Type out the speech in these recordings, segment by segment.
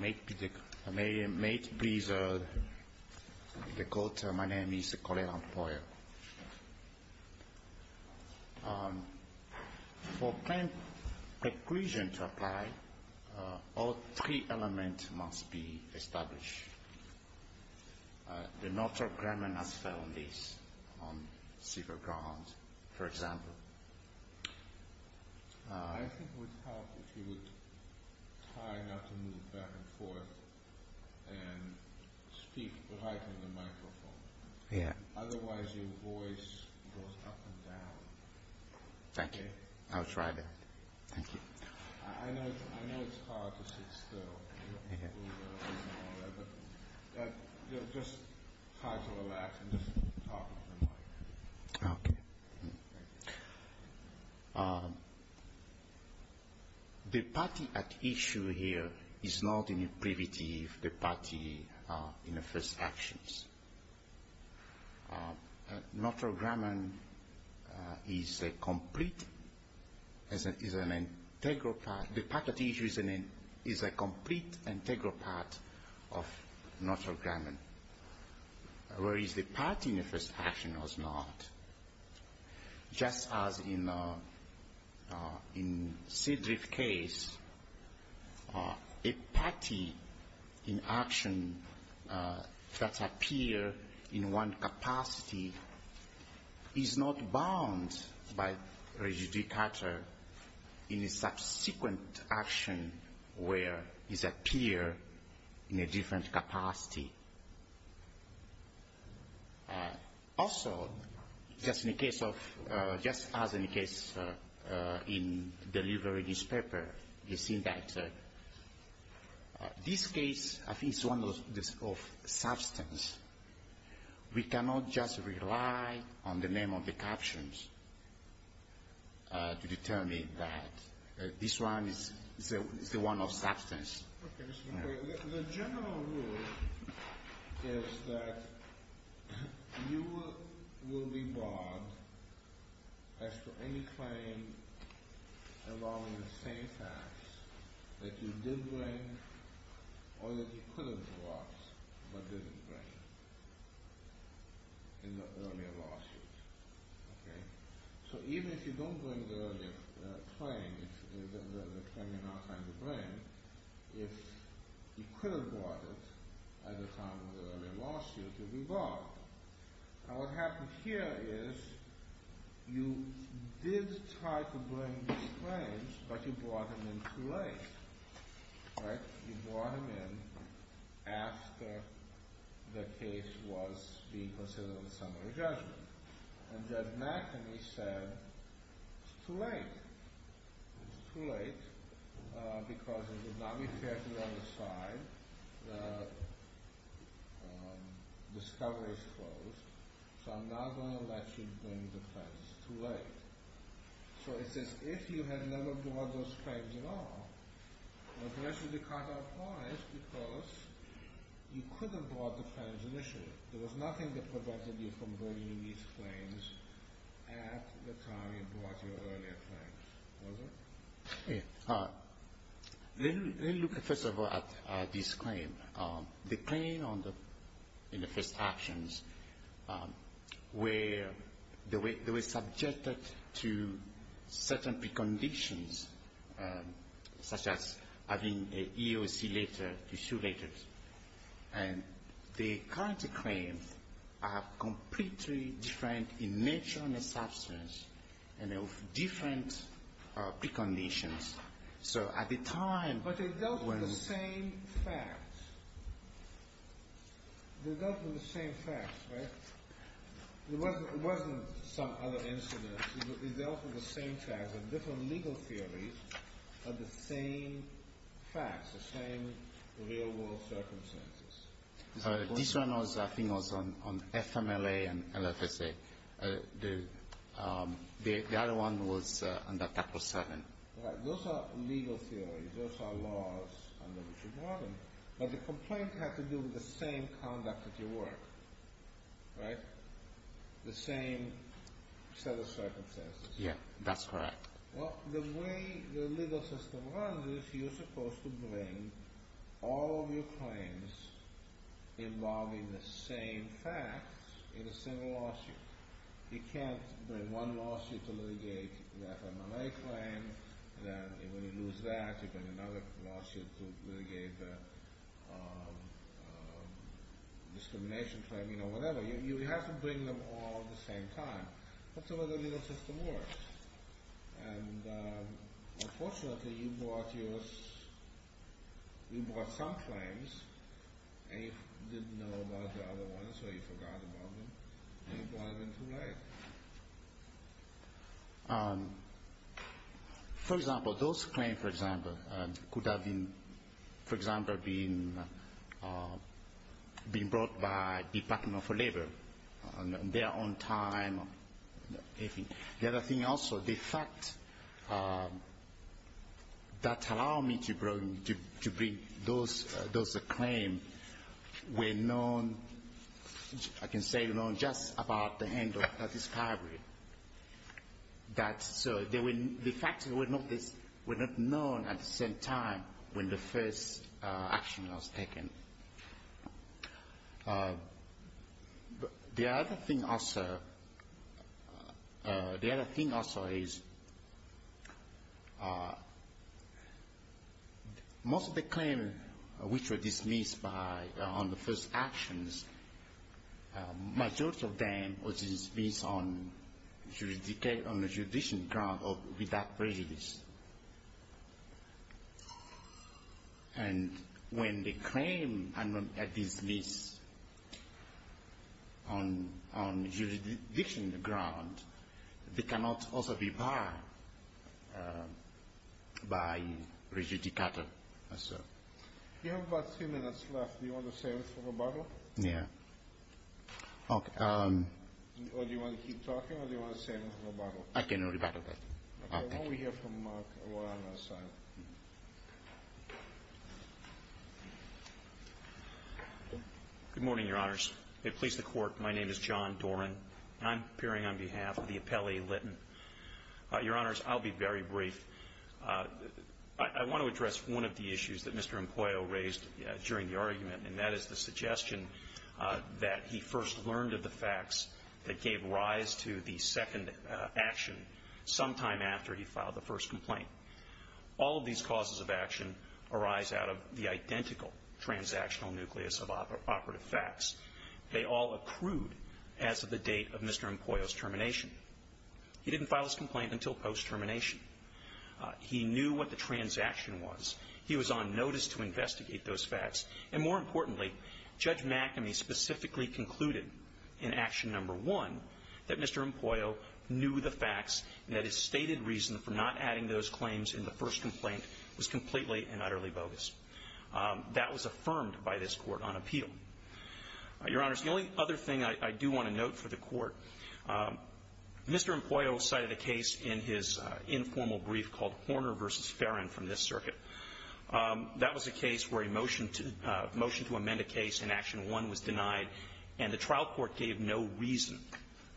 May it please the court, my name is Colin Mpoyo. For a claim preclusion to apply, all three elements must be established. The Northrop Grumman has found this on civil grounds, for example. I think it would help if you would try not to move back and forth and speak right in the microphone. Otherwise your voice goes up and down. Thank you. I'll try that. I know it's hard to sit still, but just try to relax and just talk in the microphone. Okay. The party at issue here is not in privative, the party in the first actions. Northrop Grumman is a complete, is an integral part, the party at issue is a complete integral part of Northrop Grumman. Whereas the party in the first action was not. Just as in Sidriff case, a party in action that appear in one capacity is not bound by rejudicator in a subsequent action where is appear in a different capacity. Also, just in the case of, just as in the case in delivering this paper, you see that this case, I think it's one of substance. We cannot just rely on the name of the captions to determine that this one is the one of substance. The general rule is that you will be barred as to any claim involving the same facts that you did bring or that you could have brought but didn't bring in the earlier lawsuit. Okay. So even if you don't bring the earlier claim, the claim you're not trying to bring, if you could have brought it at the time of the earlier lawsuit, you'd be barred. Now what happened here is you did try to bring these claims, but you brought them in too late. Right? You brought them in after the case was being considered in the summary judgment. And Judge McEnany said, it's too late. It's too late because it would not be fair to the other side. The discovery is closed. So I'm not going to let you bring the claims. It's too late. So it says, if you had never brought those claims at all, you could actually be cut out twice because you could have brought the claims initially. There was nothing that prevented you from bringing these claims at the time you brought your earlier claims, was there? Let me look, first of all, at this claim. The claim in the first actions where they were subjected to certain preconditions, such as having an EEOC letter to show letters. And the current claims are completely different in nature and substance, and they have different preconditions. So at the time... But they dealt with the same facts. They dealt with the same facts, right? It wasn't some other incident. They dealt with the same facts. The different legal theories are the same facts, the same real-world circumstances. This one, I think, was on FMLA and LFSA. The other one was under Title VII. Those are legal theories. Those are laws under which you brought them. But the complaint had to do with the same conduct that you work, right? The same set of circumstances. Yeah, that's correct. Well, the way the legal system runs is you're supposed to bring all of your claims involving the same facts in the same lawsuit. You can't bring one lawsuit to litigate the FMLA claim, then when you lose that, you bring another lawsuit to litigate the discrimination claim, you know, whatever. You have to bring them all at the same time. That's the way the legal system works. And unfortunately, you brought some claims, and you didn't know about the other ones, or you forgot about them, and you brought them too late. For example, those claims, for example, could have been, for example, been brought by the Department of Labor on their own time. The other thing also, the fact that allowed me to bring those claims were known, I can say known, just about the end of the discovery. So the facts were not known at the same time when the first action was taken. The other thing also, the other thing also is most of the claims which were dismissed on the first actions, majority of them were dismissed on the judicial ground without prejudice. And when the claim is dismissed on judicial ground, they cannot also be barred by rejudicator, so. You have about three minutes left. Do you want to say anything about it? Yeah. Okay. Or do you want to keep talking, or do you want to say anything about it? I can only battle that. Okay. Why don't we hear from the one on the side? Good morning, Your Honors. May it please the Court, my name is John Doran. I'm appearing on behalf of the Appellee Litton. Your Honors, I'll be very brief. I want to address one of the issues that Mr. Empoio raised during the argument, and that is the suggestion that he first learned of the facts that gave rise to the second action. Sometime after he filed the first complaint. All of these causes of action arise out of the identical transactional nucleus of operative facts. They all accrued as of the date of Mr. Empoio's termination. He didn't file his complaint until post-termination. He knew what the transaction was. He was on notice to investigate those facts. And more importantly, Judge McAmey specifically concluded in action number one that Mr. Empoio knew the facts and that his stated reason for not adding those claims in the first complaint was completely and utterly bogus. That was affirmed by this Court on appeal. Your Honors, the only other thing I do want to note for the Court, Mr. Empoio cited a case in his informal brief called Horner v. Ferrin from this circuit. That was a case where a motion to amend a case in action one was denied, and the trial court gave no reason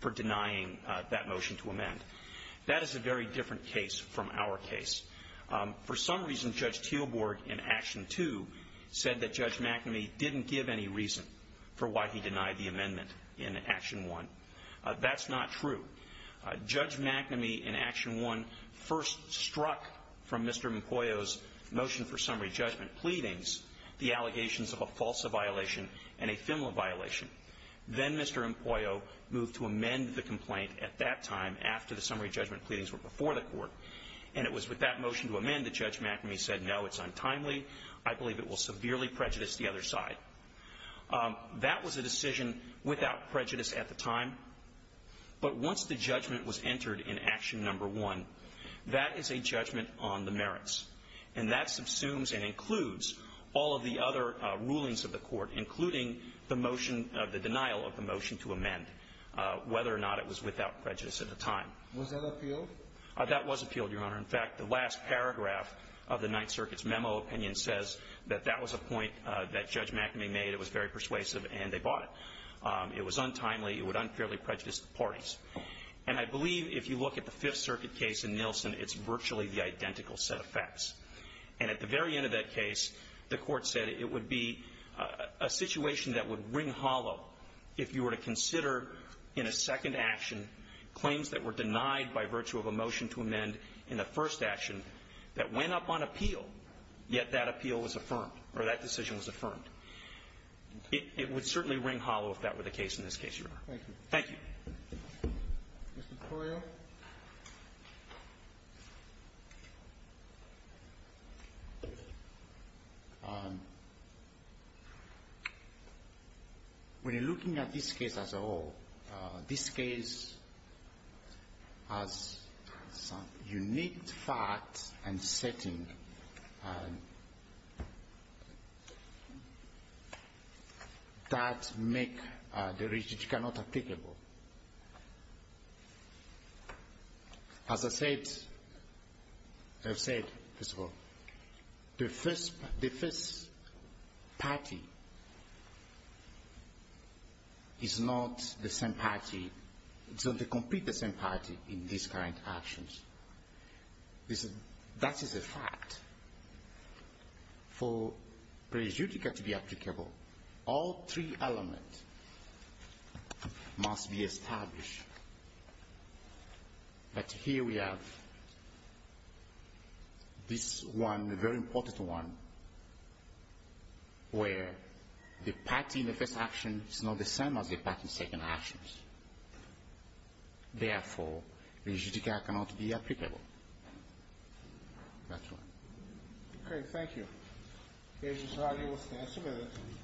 for denying that motion to amend. That is a very different case from our case. For some reason, Judge Teelborg in action two said that Judge McAmey didn't give any reason for why he denied the amendment in action one. That's not true. Judge McAmey in action one first struck from Mr. Empoio's motion for summary judgment pleadings the allegations of a FALSA violation and a FIMLA violation. Then Mr. Empoio moved to amend the complaint at that time after the summary judgment pleadings were before the Court. And it was with that motion to amend that Judge McAmey said, no, it's untimely. I believe it will severely prejudice the other side. That was a decision without prejudice at the time. But once the judgment was entered in action number one, that is a judgment on the merits. And that subsumes and includes all of the other rulings of the Court, including the motion of the denial of the motion to amend, whether or not it was without prejudice at the time. Was that appealed? That was appealed, Your Honor. In fact, the last paragraph of the Ninth Circuit's memo opinion says that that was a point that Judge McAmey made. It was very persuasive, and they bought it. It was untimely. It would unfairly prejudice the parties. And I believe if you look at the Fifth Circuit case in Nielsen, it's virtually the identical set of facts. And at the very end of that case, the Court said it would be a situation that would ring hollow if you were to consider in a second action claims that were denied by virtue of a motion to amend in the first action that went up on appeal, yet that appeal was affirmed, or that decision was affirmed. It would certainly ring hollow if that were the case in this case, Your Honor. Thank you. Mr. Coyle. When you're looking at this case as a whole, this case has some unique facts and setting. And that make the religion cannot applicable. As I said, I've said this before. The first party is not the same party. It's not the complete the same party in these current actions. That is a fact. For prejudica to be applicable, all three elements must be established. But here we have this one, a very important one, where the party in the first action is not the same as the party in the second action. Therefore, prejudica cannot be applicable. That's why. Okay, thank you. Agent Hardy will stand submitted.